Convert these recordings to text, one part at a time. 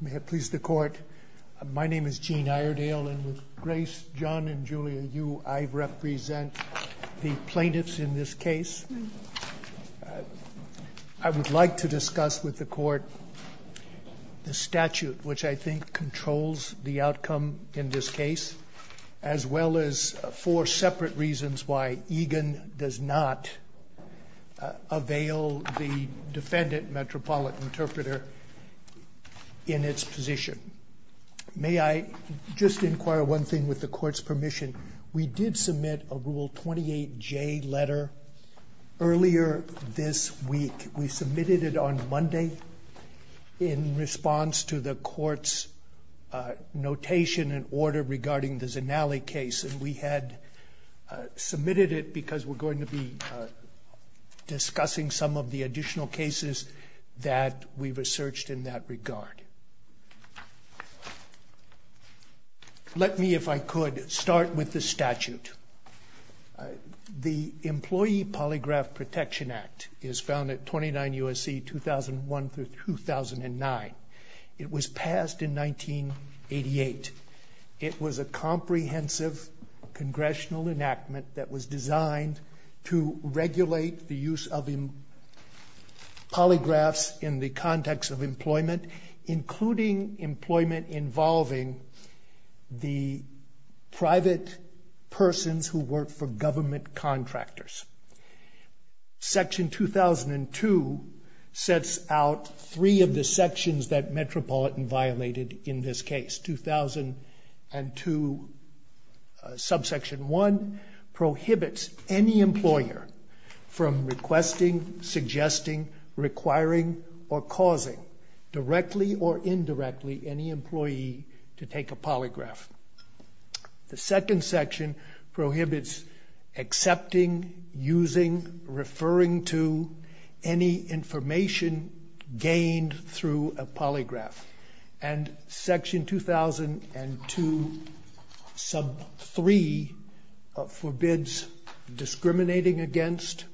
May it please the Court, my name is Gene Iredale, and with Grace, John, and Julia Yu, I represent the plaintiffs in this case. I would like to discuss with the Court the statute which I think controls the outcome in this case, as well as four separate reasons why Egan does not avail the defendant, Metropolitan Interpreter, in its position. May I just inquire one thing with the Court's permission? We did submit a Rule 28J letter earlier this week. We submitted it on Monday in response to the Court's notation and order regarding the Zinali case, and we had submitted it because we're going to be discussing some of the additional cases that we researched in that regard. Let me, if I could, start with the statute. The Employee Polygraph Protection Act is found at 29 U.S.C. 2001-2009. It was passed in 1988. It was a comprehensive congressional enactment that was designed to regulate the use of polygraphs in the context of employment, including employment involving the private persons who work for government contractors. Section 2002 sets out three of the sections that Metropolitan violated in this case. Subsection 1 prohibits any employer from requesting, suggesting, requiring, or causing, directly or indirectly, any employee to take a polygraph. The second section prohibits accepting, using, referring to, any information gained through a polygraph. And Section 2002, sub 3, forbids discriminating against,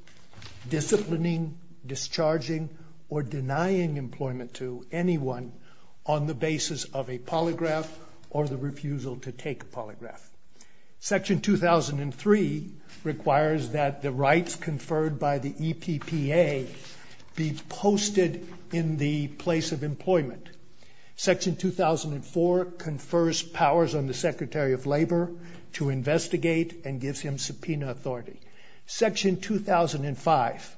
disciplining, discharging, or denying employment to anyone on the basis of a polygraph or the refusal to take a polygraph. Section 2003 requires that the rights conferred by the EPPA be posted in the place of employment. Section 2004 confers powers on the Secretary of Labor to investigate and gives him subpoena authority. Section 2005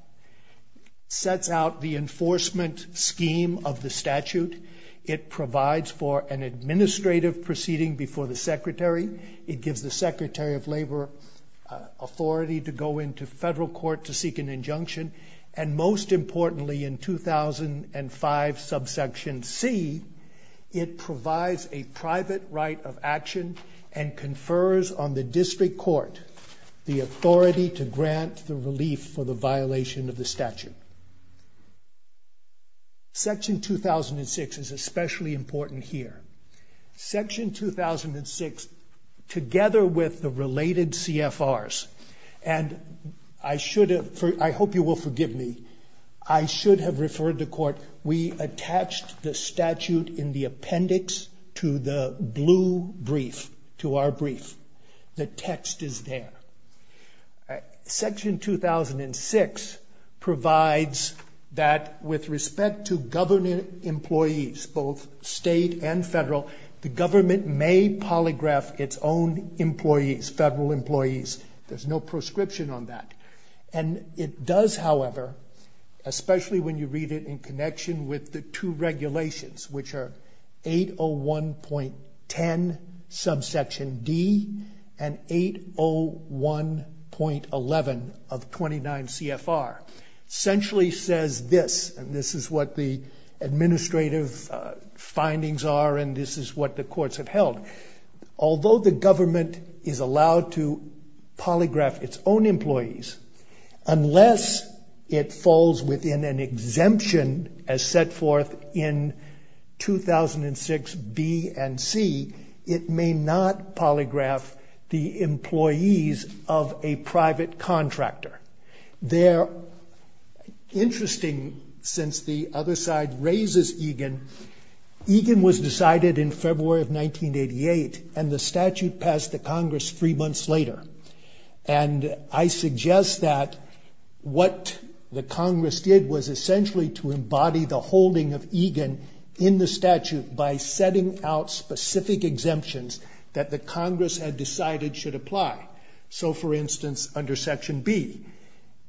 sets out the enforcement scheme of the statute. It provides for an administrative proceeding before the Secretary. It gives the Secretary of Labor authority to go into federal court to seek an injunction. And most importantly, in 2005 subsection C, provides a private right of action and confers on the district court the authority to grant the relief for the violation of the statute. Section 2006 is especially important here. Section 2006, together with the related CFRs, and I hope you will forgive me, I should have referred to court, we attached the statute in the appendix to the blue brief, to our brief. The text is there. Section 2006 provides that with respect to government employees, both state and federal, the government may polygraph its own employees, federal employees. There's no prescription on that. And it does, however, especially when you read it in connection with the two regulations, which are 801.10 subsection D and 801.11 of 29 CFR, essentially says this, and this is what the administrative findings are and this is what the courts have polygraphed its own employees, unless it falls within an exemption as set forth in 2006 B and C, it may not polygraph the employees of a private contractor. They're interesting since the other side raises Egan. Egan was decided in February of 1988 and the statute passed the Congress three and I suggest that what the Congress did was essentially to embody the holding of Egan in the statute by setting out specific exemptions that the Congress had decided should apply. So, for instance, under section B,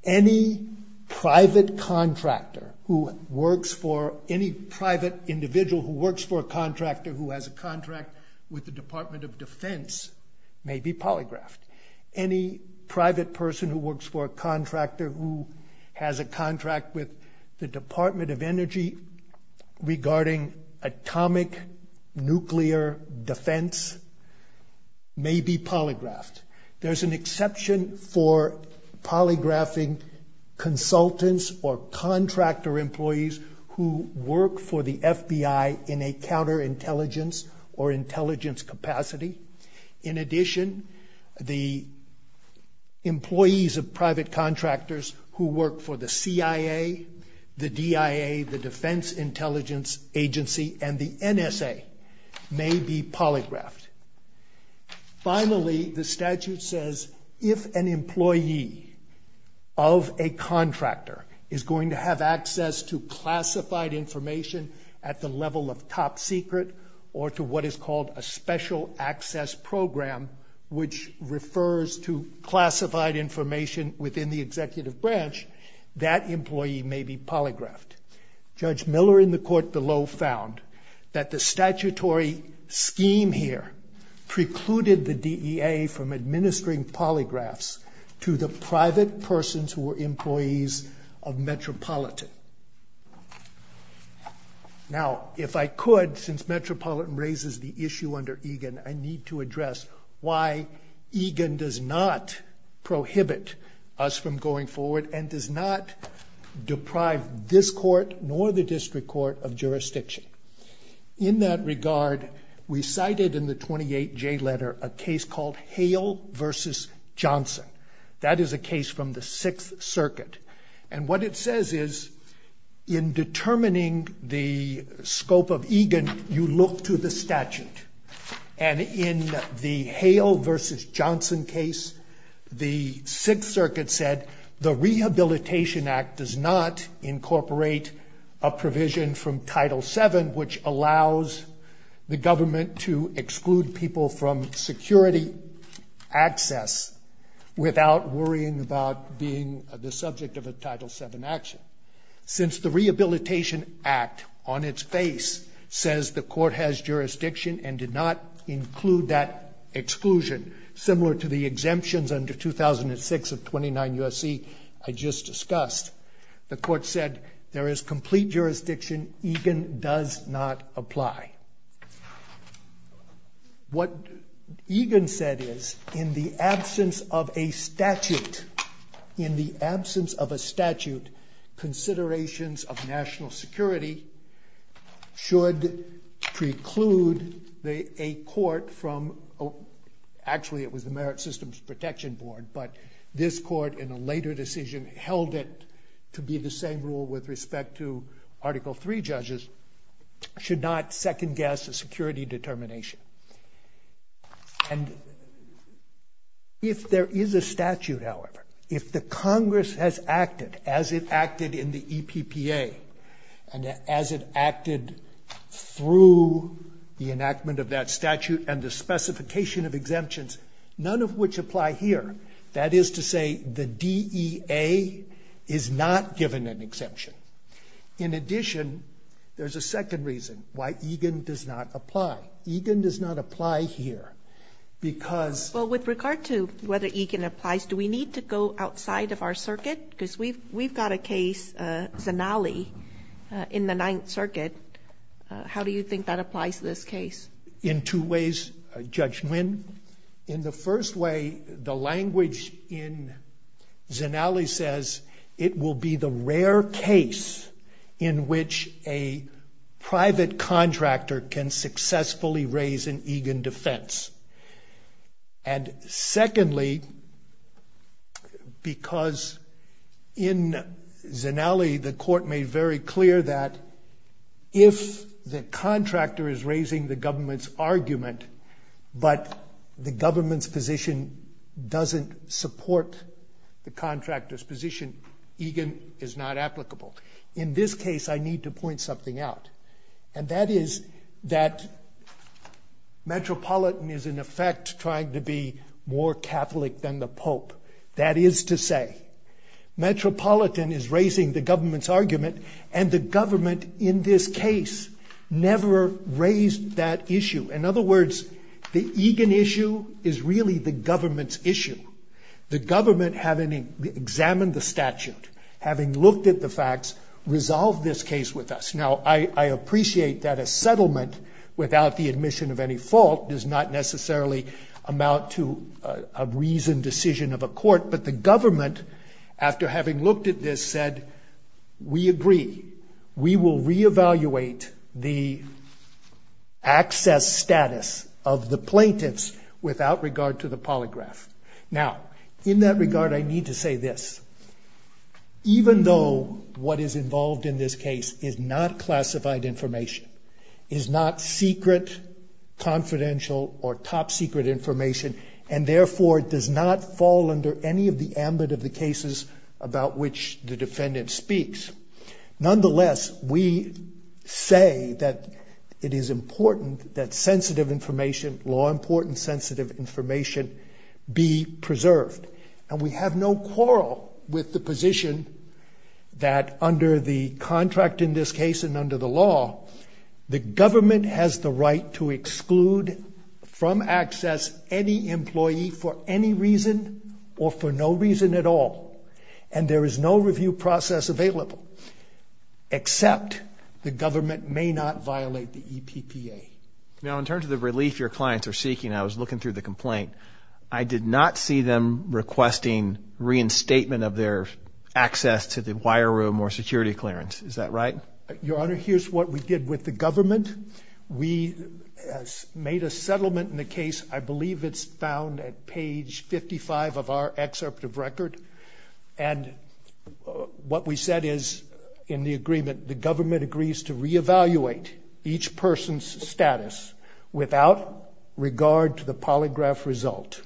any private contractor who works for any private individual who works for a contractor who has a contract with the Department of Defense may be polygraphed. Any private person who works for a contractor who has a contract with the Department of Energy regarding atomic nuclear defense may be polygraphed. There's an exception for polygraphing consultants or contractor employees who work for the FBI in a counterintelligence or intelligence capacity. In addition, the employees of private contractors who work for the CIA, the DIA, the Defense Intelligence Agency, and the NSA may be polygraphed. Finally, the statute says if an employee of a contractor is going to have access to classified information at the level of top secret or to what is called a special access program, which refers to classified information within the executive branch, that employee may be polygraphed. Judge Miller in the court below found that the statutory scheme here precluded the DEA from administering polygraphs to the private persons who were employees of Metropolitan. Now, if I could, since Metropolitan raises the issue under Egan, I need to address why Egan does not prohibit us from going forward and does not deprive this court nor the district court of jurisdiction. In that regard, we cited in the 28J letter a case called Hale v. Johnson. That is a in determining the scope of Egan, you look to the statute. And in the Hale v. Johnson case, the Sixth Circuit said the Rehabilitation Act does not incorporate a provision from Title VII, which allows the government to exclude people from security access without worrying about being the subject of a Title VII action. Since the Rehabilitation Act, on its face, says the court has jurisdiction and did not include that exclusion, similar to the exemptions under 2006 of 29 U.S.C. I just discussed, the court said there is complete jurisdiction. Egan does not statute, considerations of national security should preclude a court from, actually it was the Merit Systems Protection Board, but this court in a later decision held it to be the same rule with respect to Article III judges, should not second guess a security determination. And if there is a statute, however, if the Congress has acted as it acted in the EPPA, and as it acted through the enactment of that statute and the specification of exemptions, none of which apply here, that is to say the DEA is not given an exemption. In addition, there's a second reason why Egan does not apply. Egan does not apply here, because... Well, with regard to whether Egan applies, do we need to go outside of our circuit? Because we've got a case, Zanali, in the Ninth Circuit. How do you think that applies to this case? In two ways, Judge Nguyen. In the first way, the language in Zanali says it will be the rare case in which a private contractor can successfully raise an Egan defense. And secondly, because in Zanali, the court made very clear that if the contractor is raising the government's argument, but the government's position doesn't support the contractor's position, Egan is not applicable. In this case, I need to point something out, and that is that Metropolitan is in effect trying to be more Catholic than the Pope. That is to say, Metropolitan is raising the government's argument, and the government in this case never raised that issue. In other words, the Egan issue is really the government's issue. The government, having examined the statute, having looked at the facts, resolved this case with us. Now, I appreciate that a settlement without the admission of any fault does not necessarily amount to a reasoned decision of a court, but the government, after having looked at this, said, we agree. We will reevaluate the access status of the plaintiffs without regard to the polygraph. Now, in that regard, I need to say this. Even though what is involved in this case is not classified information, is not secret, confidential, or top-secret information, and therefore does not fall under any of the ambit of the cases about which the defendant speaks, nonetheless, we say that it is important that sensitive information, law-important information, be preserved. And we have no quarrel with the position that under the contract in this case and under the law, the government has the right to exclude from access any employee for any reason or for no reason at all. And there is no review process available, except the government may not violate the EPPA. Now, in terms of the relief your clients are seeking, I was looking through the complaint. I did not see them requesting reinstatement of their access to the wire room or security clearance. Is that right? Your Honor, here's what we did with the government. We made a settlement in the case. I believe it's found at page 55 of our excerpt of record. And what we said is, in the agreement, the government agrees to reevaluate each person's status without regard to the polygraph result.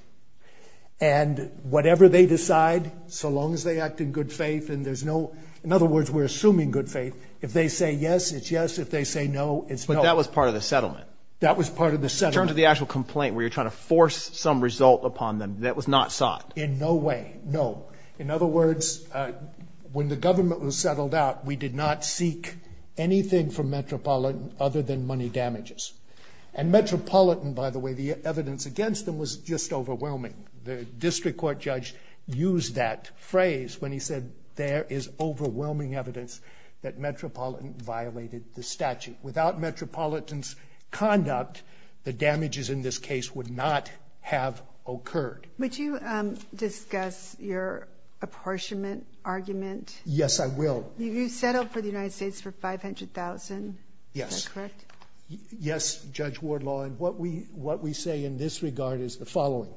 And whatever they decide, so long as they act in good faith and there's no, in other words, we're assuming good faith, if they say yes, it's yes. If they say no, it's no. But that was part of the settlement. That was part of the settlement. In terms of the actual complaint where you're trying to force some result upon them, that was not sought? In no way, no. In other words, when the government was settled out, we did not seek anything from Metropolitan other than money damages. And Metropolitan, by the way, the evidence against them was just overwhelming. The district court judge used that phrase when he said, there is overwhelming evidence that Metropolitan violated the statute. Without Metropolitan's conduct, the damages in this case would not have occurred. Would you discuss your apportionment argument? Yes, I will. You settled for the United States for $500,000. Is that correct? Yes, Judge Wardlaw. And what we say in this regard is the following.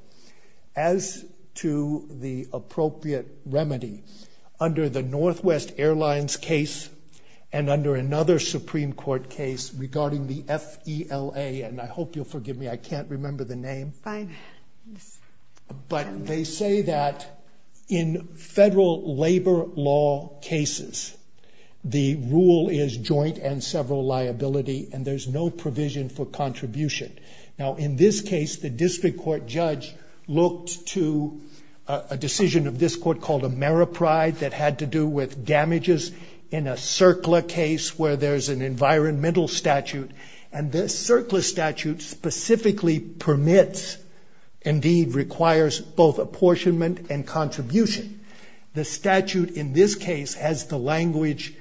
As to the appropriate Supreme Court case regarding the F.E.L.A., and I hope you'll forgive me, I can't remember the name. Fine. But they say that in federal labor law cases, the rule is joint and several liability, and there's no provision for contribution. Now, in this case, the district court judge looked to a decision of this court called Ameripride that had to do with damages in a circular case where there's an environmental statute, and this circular statute specifically permits, indeed requires, both apportionment and contribution. The statute in this case has the language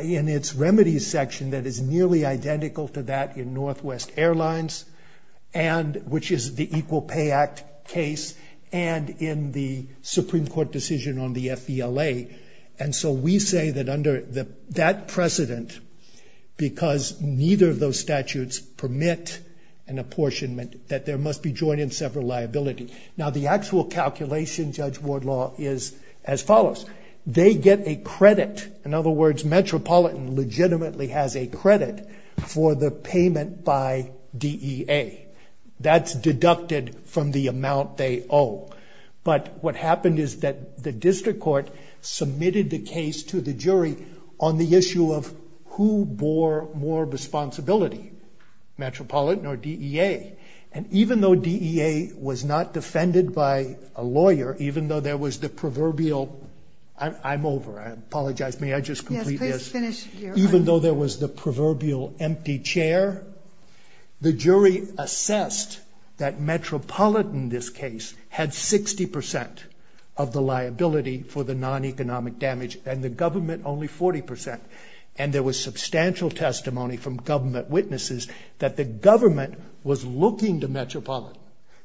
in its remedies section that is nearly identical to that in Northwest Airlines, and which is the Equal Pay Act case, and in the Supreme Court decision on the F.E.L.A. And so we say that under that precedent, because neither of those statutes permit an apportionment, that there must be joint and several liability. Now, the actual calculation, Judge Wardlaw, is as follows. They get a credit. In other words, Metropolitan legitimately has a credit for the payment by DEA. That's deducted from the amount they owe. But what happened is that the district court submitted the case to the jury on the issue of who bore more responsibility, Metropolitan or DEA. And even though DEA was not defended by a lawyer, even though there was the proverbial, I'm over, I apologize, may I just complete this? Even though there was the proverbial empty chair, the jury assessed that Metropolitan, this case, had 60% of the liability for the non-economic damage and the government only 40%. And there was substantial testimony from government witnesses that the government was looking to Metropolitan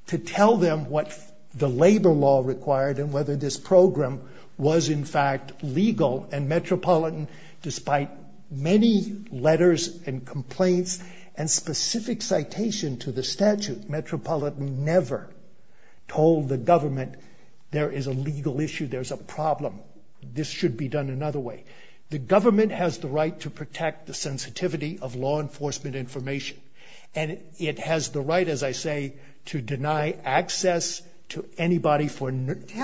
to tell them what the labor law required and whether this program was in fact legal. And Metropolitan, despite many letters and complaints and specific citation to the statute, Metropolitan never told the government there is a legal issue, there's a problem. This should be done another way. The government has the right to protect the sensitivity of law enforcement information. And it has the right, as I say, to help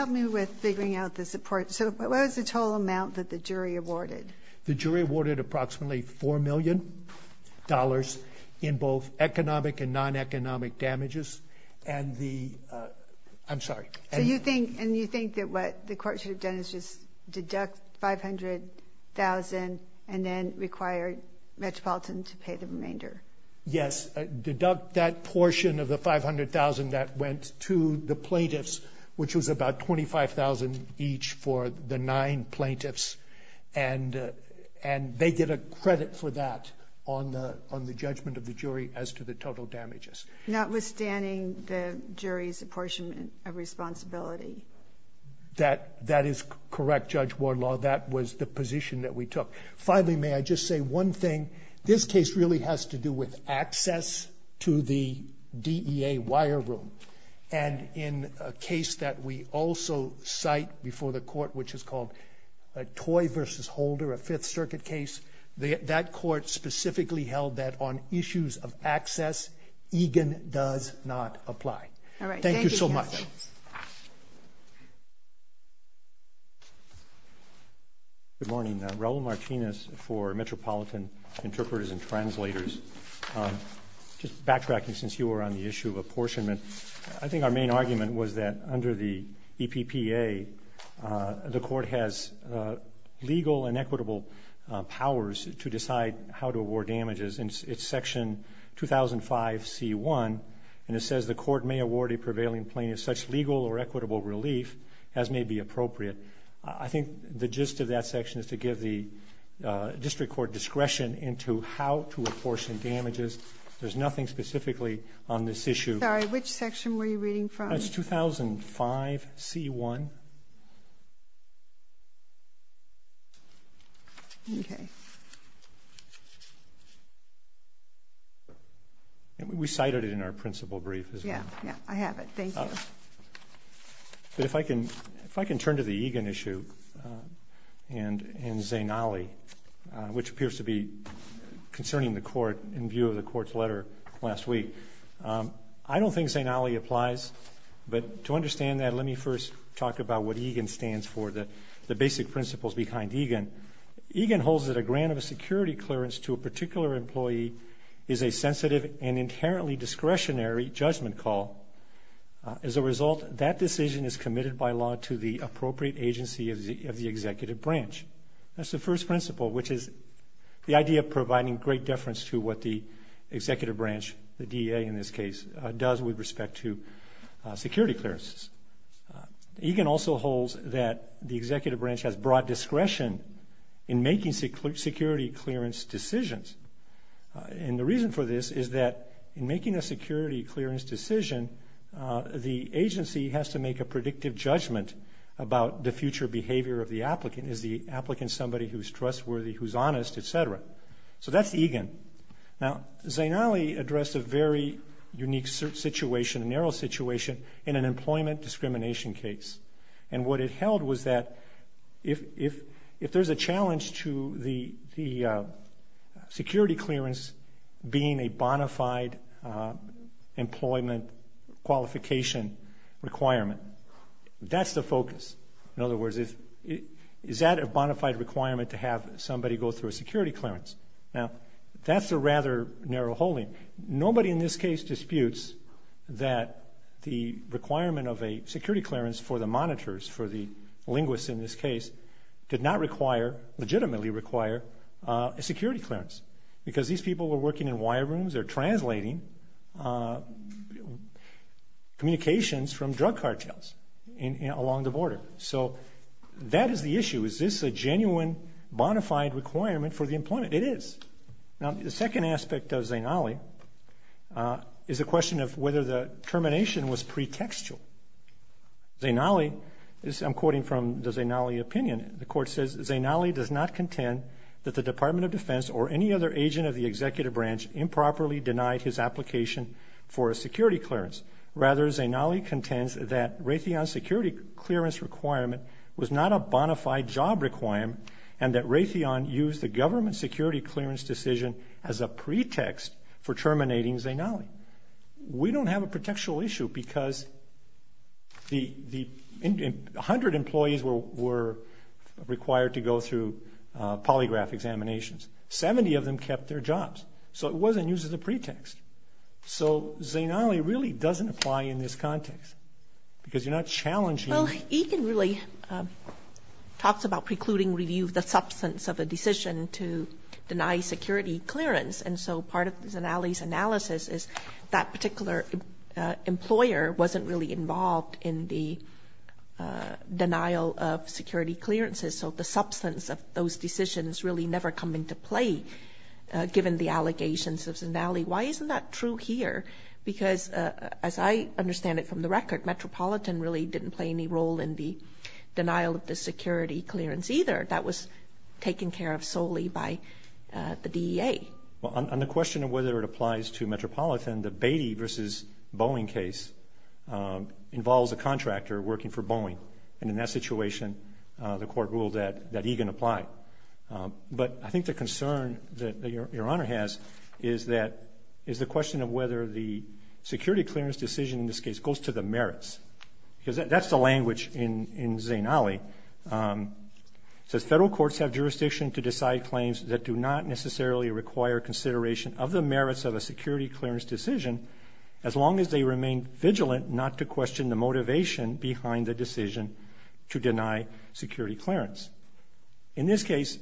me with figuring out the support. So what was the total amount that the jury awarded? The jury awarded approximately $4 million in both economic and non-economic damages. And the, I'm sorry. So you think, and you think that what the court should have done is just deduct $500,000 and then require Metropolitan to pay the remainder? Yes, deduct that portion of the $500,000 that went to the plaintiffs, which was about $25,000 each for the nine plaintiffs. And they get a credit for that on the judgment of the jury as to the total damages. Notwithstanding the jury's apportionment of responsibility. That is correct, Judge Warlaw. That was the position that we took. Finally, may I just say one thing? This case really has to do with access to the DEA wire room. And in a case that we also cite before the court, which is called a Toy versus Holder, a Fifth Circuit case, that court specifically held that on issues of access, Egan does not apply. Thank you so much. Good morning. Raul Martinez for Metropolitan Interpreters and Translators. Just backtracking since you were on the issue of apportionment. I think our main argument was that under the EPPA, the court has legal and equitable powers to decide how to award damages. It's Section 2005C1, and it says the court may award a prevailing plaintiff such legal or equitable relief as may be appropriate. I think the gist of that section is to give the district court discretion into how to apportion damages. There's nothing specifically on this issue. Sorry, which section were you reading from? That's 2005C1. Okay. We cited it in our principal brief as well. Yeah, I have it. Thank you. But if I can turn to the Egan issue and Zainali, which appears to be concerning the court in view of the court's letter last week. I don't think Zainali applies, but to understand that, let me first talk about what Egan stands for, the basic principles behind Egan. Egan holds that a grant of a security clearance to a particular employee is a sensitive and inherently discretionary judgment call. As a result, that decision is committed by law to the appropriate agency of the executive branch. That's the first principle, which is the idea of providing great deference to what the executive branch, the DA in this case, does with respect to security clearances. Egan also holds that the executive branch has broad discretion in making security clearance decisions. And the reason for this is that in making a security clearance decision, the agency has to make a predictive judgment about the future behavior of the applicant. Is the applicant somebody who's trustworthy, who's honest, etc.? So that's Egan. Now, Zainali addressed a very unique situation, a narrow situation in an employment discrimination case. And what it held was that if there's a challenge to the security clearance being a bona fide employment qualification requirement, that's the focus. In other words, is that a bona fide requirement to have somebody go through a security clearance? Now, that's a rather narrow holding. Nobody in this case disputes that the requirement of a security clearance for the monitors, for the linguists in this case, did not require, legitimately require, a security clearance. Because these people were working in wire rooms, they're translating communications from drug cartels along the border. So that is the issue. Is this a genuine bona fide requirement for the employment? It is. Now, the second aspect of Zainali is a question of whether the termination was pretextual. I'm quoting from the Zainali opinion. The court says, Zainali does not contend that the Department of Defense or any other agent of the executive branch improperly denied his application for a security clearance. Rather, Zainali contends that Raytheon's security clearance requirement was not a bona fide job requirement and that Raytheon used the government security clearance decision as a pretext for terminating Zainali. We don't have a pretextual issue because the hundred employees were required to go through polygraph examinations. Seventy of them kept their jobs. So it wasn't used as a pretext. So Zainali really doesn't apply in this context because you're not challenging... Egan really talks about precluding review of the substance of a decision to deny security clearance. And so part of Zainali's analysis is that particular employer wasn't really involved in the denial of security clearances. So the substance of those decisions really never come into play given the allegations of Zainali. Why isn't that true here? Because as I understand it from the record, Metropolitan really didn't play any role in the denial of the security clearance either. That was taken care of solely by the DEA. Well, on the question of whether it applies to Metropolitan, the Beatty v. Boeing case involves a contractor working for Boeing. And in that situation, the court ruled that Egan applied. But I think the concern that Your Honor has is the question of whether the security clearance decision in this case goes to the merits. Because that's the language in Zainali. It says federal courts have jurisdiction to decide claims that do not necessarily require consideration of the merits of a security clearance decision as long as they remain vigilant not to question the motivation behind the decision to deny security clearance. In this case,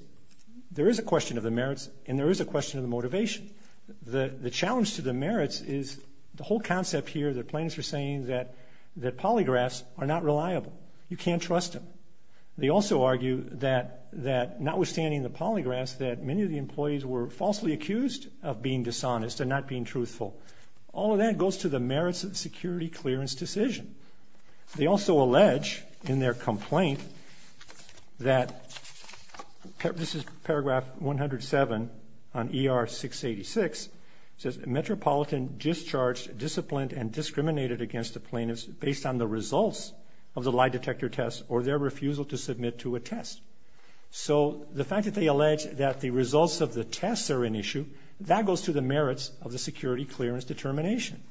there is a question of the merits and there is a question of the motivation. The challenge to the merits is the whole concept here that plaintiffs are saying that polygraphs are not reliable. You can't trust them. They also argue that notwithstanding the polygraphs that many of the employees were falsely accused of being dishonest and not being truthful. All of that goes to the merits of the security clearance decision. They also allege in their complaint that this is paragraph 107 on ER-686. It says, Metropolitan discharged, disciplined, and discriminated against the plaintiffs based on the results of the lie detector test or their refusal to submit to a test. So the fact that they allege that the results of the tests are an issue, that goes to the merits of the security clearance determination.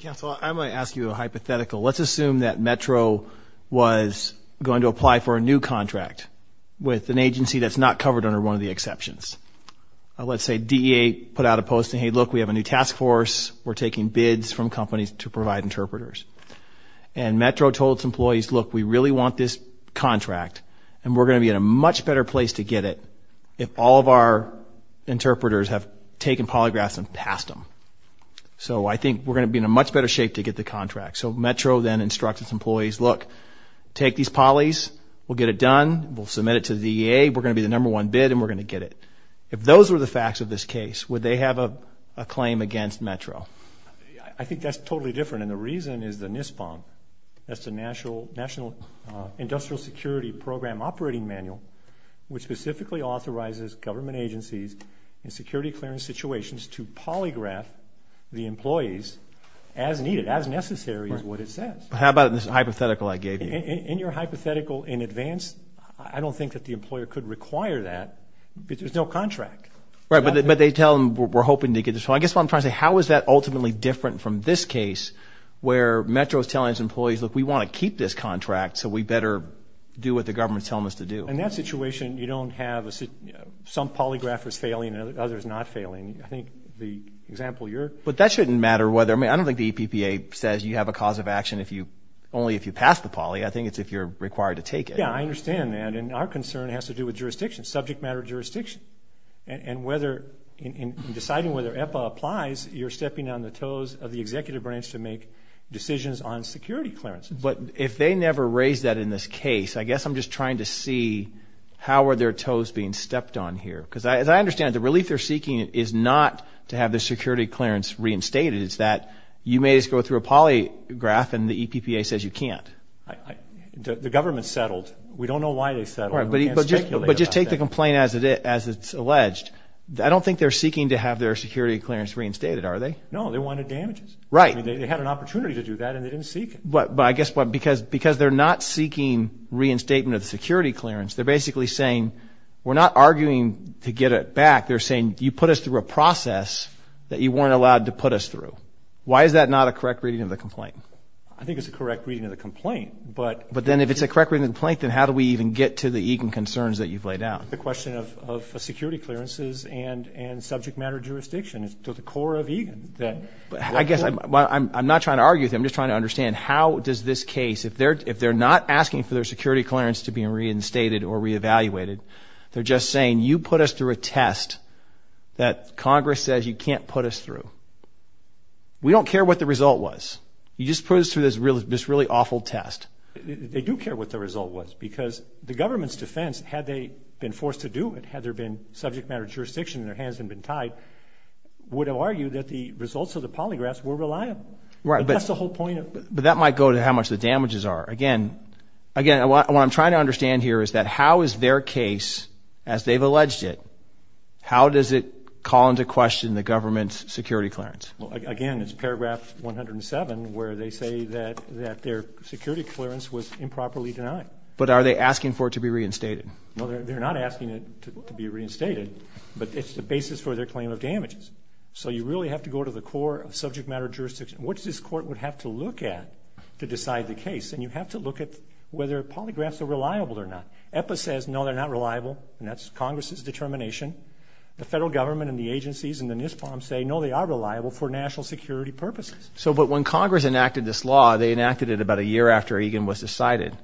Counselor, I'm going to ask you a hypothetical. Let's assume that Metro was going to apply for a new contract with an agency that's not covered under one of the exceptions. Let's say DEA put out a post saying, hey, look, we have a new task force. We're taking bids from companies to provide interpreters. And Metro told its employees, look, we really want this contract and we're going to be in a much better place to get it if all of our interpreters have taken polygraphs and passed them. So I think we're going to be in a much better shape to get the contract. So Metro then instructs its employees, look, take these polys. We'll get it done. We'll submit it to the DEA. We're going to be the number one bid and we're going to get it. If those were the facts of this case, would they have a claim against Metro? I think that's totally different. And the reason is the NISPOM. That's the National Industrial Security Program Operating Manual, which specifically authorizes government agencies in security clearance situations to polygraph the employees as needed, as necessary as what it says. How about this hypothetical I gave you? In your hypothetical in advance, I don't think that the employer could require that because there's no contract. Right. But they tell them we're hoping to get this. I guess what I'm trying to say, how is that ultimately different from this case where Metro is telling its employees, look, we want to keep this contract so we better do what the government is telling us to do? In that situation, you don't have some polygraphers failing and others not failing. I think the example you're... But that shouldn't matter whether... I mean, I don't think the EPPA says you have a cause of action only if you pass the poly. I think it's if you're required to take it. Yeah, I understand that. And our concern has to do with jurisdiction, subject matter jurisdiction. And in deciding whether EPA applies, you're stepping on the toes of the executive branch to make decisions on security clearances. But if they never raised that in this case, I guess I'm just trying to see how are their toes being stepped on here? Because as I understand it, the relief they're seeking is not to have the security clearance reinstated. It's that you may just go through a polygraph and the EPPA says you can't. The government settled. We don't know why they settled. We can't speculate. But just take the complaint as it's alleged. I don't think they're seeking to have their security clearance reinstated, are they? No, they wanted damages. Right. They had an opportunity to do that and they didn't seek it. But I guess because they're not seeking reinstatement of the security clearance, they're basically saying we're not arguing to get it back. They're saying you put us through a process that you weren't allowed to put us through. Why is that not a correct reading of the complaint? I think it's a correct reading of the complaint. But then if it's a correct reading of the complaint, then how do we even get to the EGIN concerns that you've laid out? The question of security clearances and subject matter jurisdiction is to the core of EGIN. But I guess I'm not trying to argue with you. I'm just trying to understand how does this case, if they're not asking for their security clearance to be reinstated or reevaluated, they're just saying you put us through a test that Congress says you can't put us through. We don't care what the result was. You just put us through this really awful test. They do care what the result was because the government's defense, had they been forced to do it, had there been subject matter jurisdiction and their hands hadn't been tied, would argue that the results of the polygraphs were reliable. Right. But that's the whole point. But that might go to how much the damages are. Again, what I'm trying to understand here is that how is their case, as they've alleged it, how does it call into question the government's security clearance? Well, again, it's paragraph 107 where they say that their security clearance was improperly denied. But are they asking for it to be reinstated? No, they're not asking it to be reinstated, but it's the basis for their claim of damages. So you really have to go to the core of to decide the case. And you have to look at whether polygraphs are reliable or not. EPA says, no, they're not reliable. And that's Congress's determination. The federal government and the agencies and the NISPOM say, no, they are reliable for national security purposes. So, but when Congress enacted this law, they enacted it about a year after Egan was decided.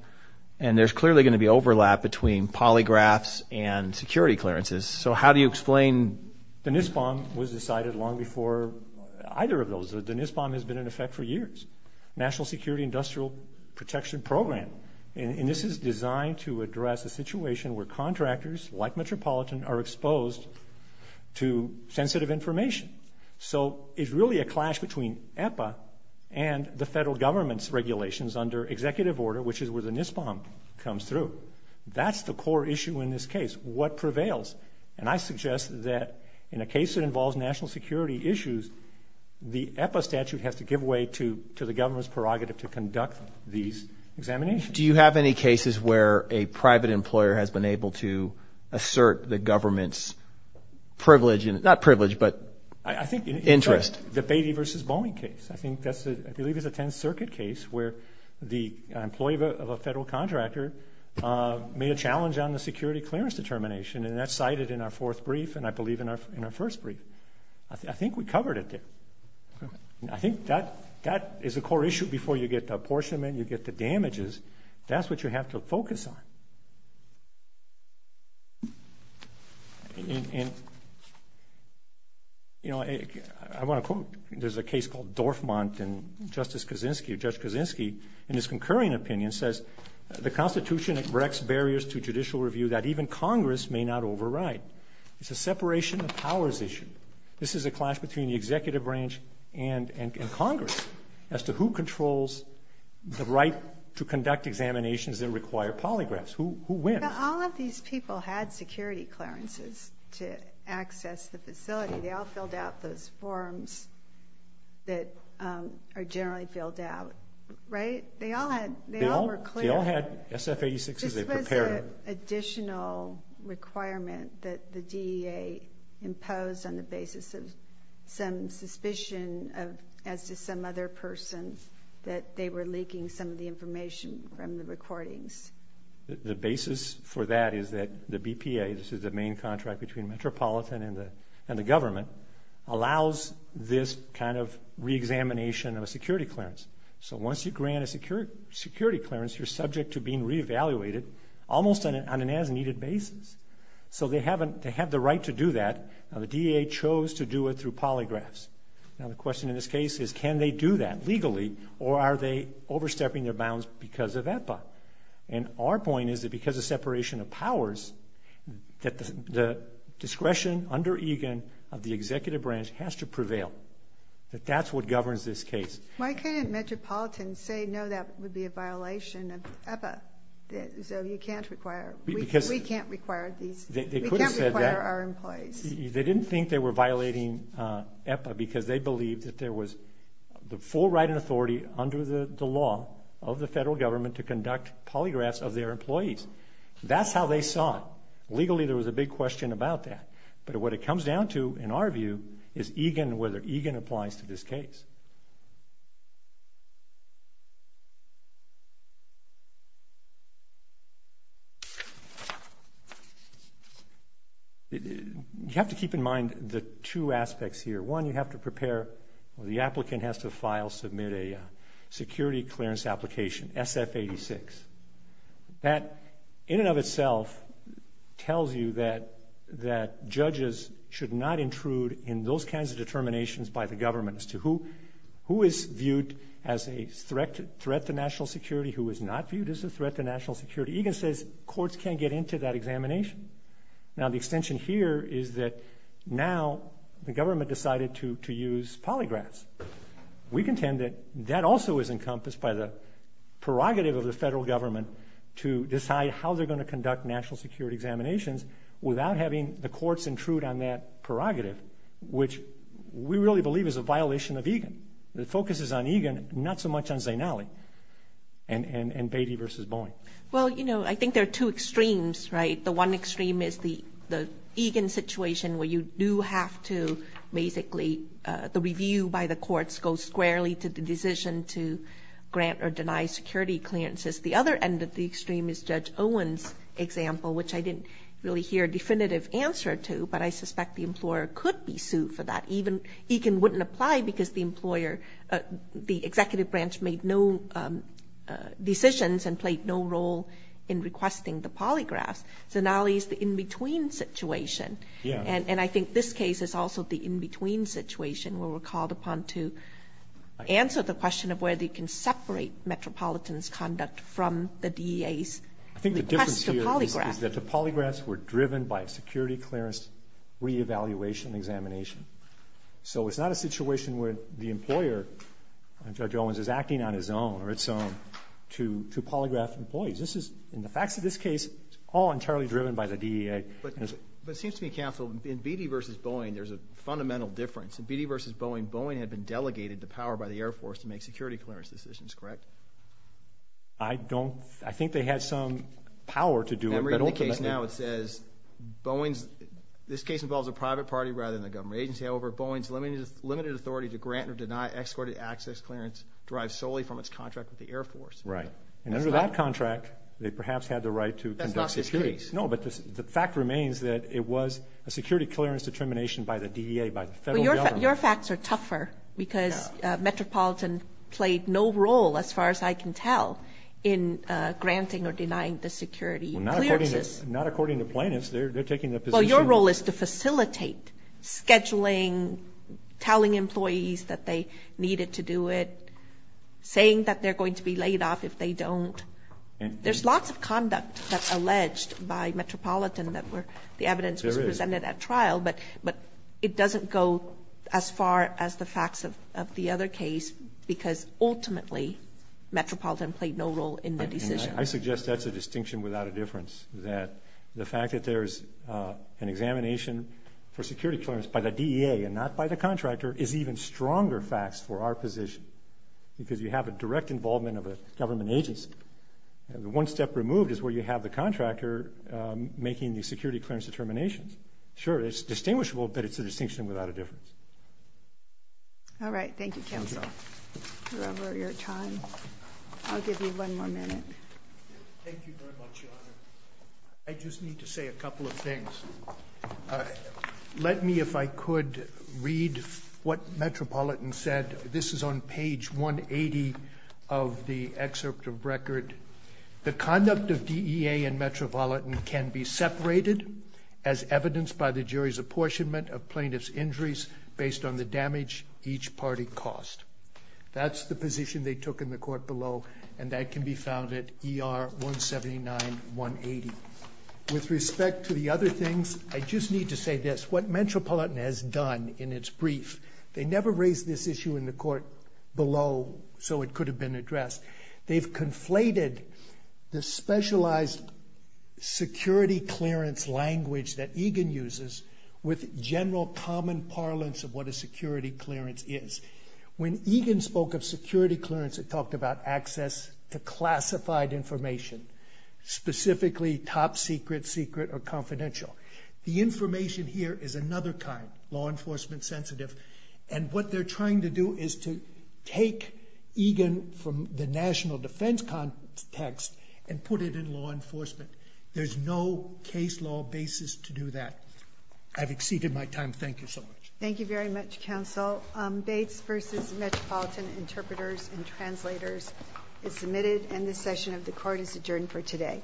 And there's clearly going to be overlap between polygraphs and security clearances. So how do you explain... The NISPOM was decided long before either of those. The NISPOM has been in effect for years. National Security Industrial Protection Program. And this is designed to address a situation where contractors, like Metropolitan, are exposed to sensitive information. So it's really a clash between EPA and the federal government's regulations under executive order, which is where the NISPOM comes through. That's the core issue in this case. What prevails? And I suggest that in a case that involves national security issues, the EPA statute has given way to the government's prerogative to conduct these examinations. Do you have any cases where a private employer has been able to assert the government's privilege, not privilege, but interest? The Beatty versus Boeing case. I think that's, I believe it's a 10th Circuit case where the employee of a federal contractor made a challenge on the security clearance determination, and that's cited in our fourth brief, and I believe in our first brief. I think we covered it there. And I think that is a core issue before you get to apportionment, you get to damages. That's what you have to focus on. And, you know, I want to quote, there's a case called Dorfmant and Justice Kaczynski, or Judge Kaczynski, in his concurring opinion says, the Constitution erects barriers to judicial review that even Congress may not override. It's a separation of powers issue. This is a clash between the executive branch and Congress as to who controls the right to conduct examinations that require polygraphs. Who wins? All of these people had security clearances to access the facility. They all filled out those forms that are generally filled out, right? They all were clear. They all had SF-86s. Additional requirement that the DEA imposed on the basis of some suspicion as to some other person that they were leaking some of the information from the recordings. The basis for that is that the BPA, this is the main contract between Metropolitan and the government, allows this kind of re-examination of a security clearance. So once you grant a security clearance, you're subject to being re-evaluated almost on an as-needed basis. So they have the right to do that. Now, the DEA chose to do it through polygraphs. Now, the question in this case is, can they do that legally or are they overstepping their bounds because of BPA? And our point is that because of separation of powers, that the discretion under EGAN of the executive branch has to prevail, that that's what governs this case. Why can't Metropolitan say, no, that would be a violation of EPA? So you can't require, we can't require these, we can't require our employees? They didn't think they were violating EPA because they believed that there was the full right and authority under the law of the federal government to conduct polygraphs of their employees. That's how they saw it. Legally, there was a big question about that. But what it comes down to, in our view, is EGAN and whether EGAN applies to this case. You have to keep in mind the two aspects here. One, you have to prepare, the applicant has to file, submit a security clearance application, SF-86. That, in and of itself, tells you that judges should not intrude in those kinds of determinations by the government as to who is viewed as a threat to national security, who is not viewed as a threat to national security. EGAN says courts can't get into that examination. Now, the extension here is that now the government decided to use polygraphs. We contend that that also is encompassed by the prerogative of the federal government to decide how they're going to conduct national security examinations without having the courts intrude on that prerogative, which we really believe is a violation of EGAN. The focus is on EGAN, not so much on Zainali and Beatty v. Boeing. Well, you know, I think there are two extremes, right? The one extreme is the EGAN situation where you do have to basically, the review by the courts goes squarely to the decision to grant or deny security clearances. The other end of the extreme is Judge Owen's example, which I didn't really hear a definitive answer to, but I suspect the employer could be sued for that. EGAN wouldn't apply because the executive branch made no decisions and played no role in requesting the polygraphs. Zainali is the in-between situation, and I think this case is also the in-between situation where we're called upon to answer the question of whether you can separate Metropolitan's conduct from the DEA's request is that the polygraphs were driven by security clearance re-evaluation examination. So it's not a situation where the employer, Judge Owens, is acting on his own or its own to polygraph employees. This is, in the facts of this case, all entirely driven by the DEA. But it seems to me, Counsel, in Beatty v. Boeing, there's a fundamental difference. In Beatty v. Boeing, Boeing had been delegated the power by the Air Force to make security clearance decisions, correct? I don't, I think they had some power to do it. In the case now, it says, Boeing's, this case involves a private party rather than the government agency. However, Boeing's limited authority to grant or deny excorded access clearance derives solely from its contract with the Air Force. Right. And under that contract, they perhaps had the right to conduct security. That's not this case. No, but the fact remains that it was a security clearance determination by the DEA, by the federal government. Your facts are tougher because Metropolitan played no role, as far as I can tell, in granting or denying the security clearances. Not according to plaintiffs. They're taking the position. Well, your role is to facilitate scheduling, telling employees that they needed to do it, saying that they're going to be laid off if they don't. There's lots of conduct that's alleged by Metropolitan that were, the evidence was presented at trial, but it doesn't go as far as the facts of the other case, because ultimately, Metropolitan played no role in the decision. I suggest that's a distinction without a difference, that the fact that there's an examination for security clearance by the DEA and not by the contractor is even stronger facts for our position, because you have a direct involvement of a government agency. The one step removed is where you have the contractor making the security clearance determinations. Sure, it's distinguishable, but it's a distinction without a difference. All right. Thank you, counsel, for your time. I'll give you one more minute. Thank you very much, Your Honor. I just need to say a couple of things. Let me, if I could, read what Metropolitan said. This is on page 180 of the excerpt of record. The conduct of DEA and Metropolitan can be separated as evidenced by the jury's apportionment of plaintiff's injuries based on the damage each party caused. That's the position they took in the court below, and that can be found at ER 179-180. With respect to the other things, I just need to say this. What Metropolitan has done in its brief, they never raised this issue in the court below, so it could have been addressed. They've conflated the specialized security clearance language that Egan uses with general common parlance of what a security clearance is. When Egan spoke of security clearance, it talked about access to classified information, specifically top secret, secret, or confidential. The information here is another kind, law enforcement sensitive, and what they're trying to do is to take Egan from the national defense context and put it in law enforcement. There's no case law basis to do that. I've exceeded my time. Thank you so much. Thank you very much, counsel. Bates v. Metropolitan Interpreters and Translators is submitted, and this session of the court is adjourned for today.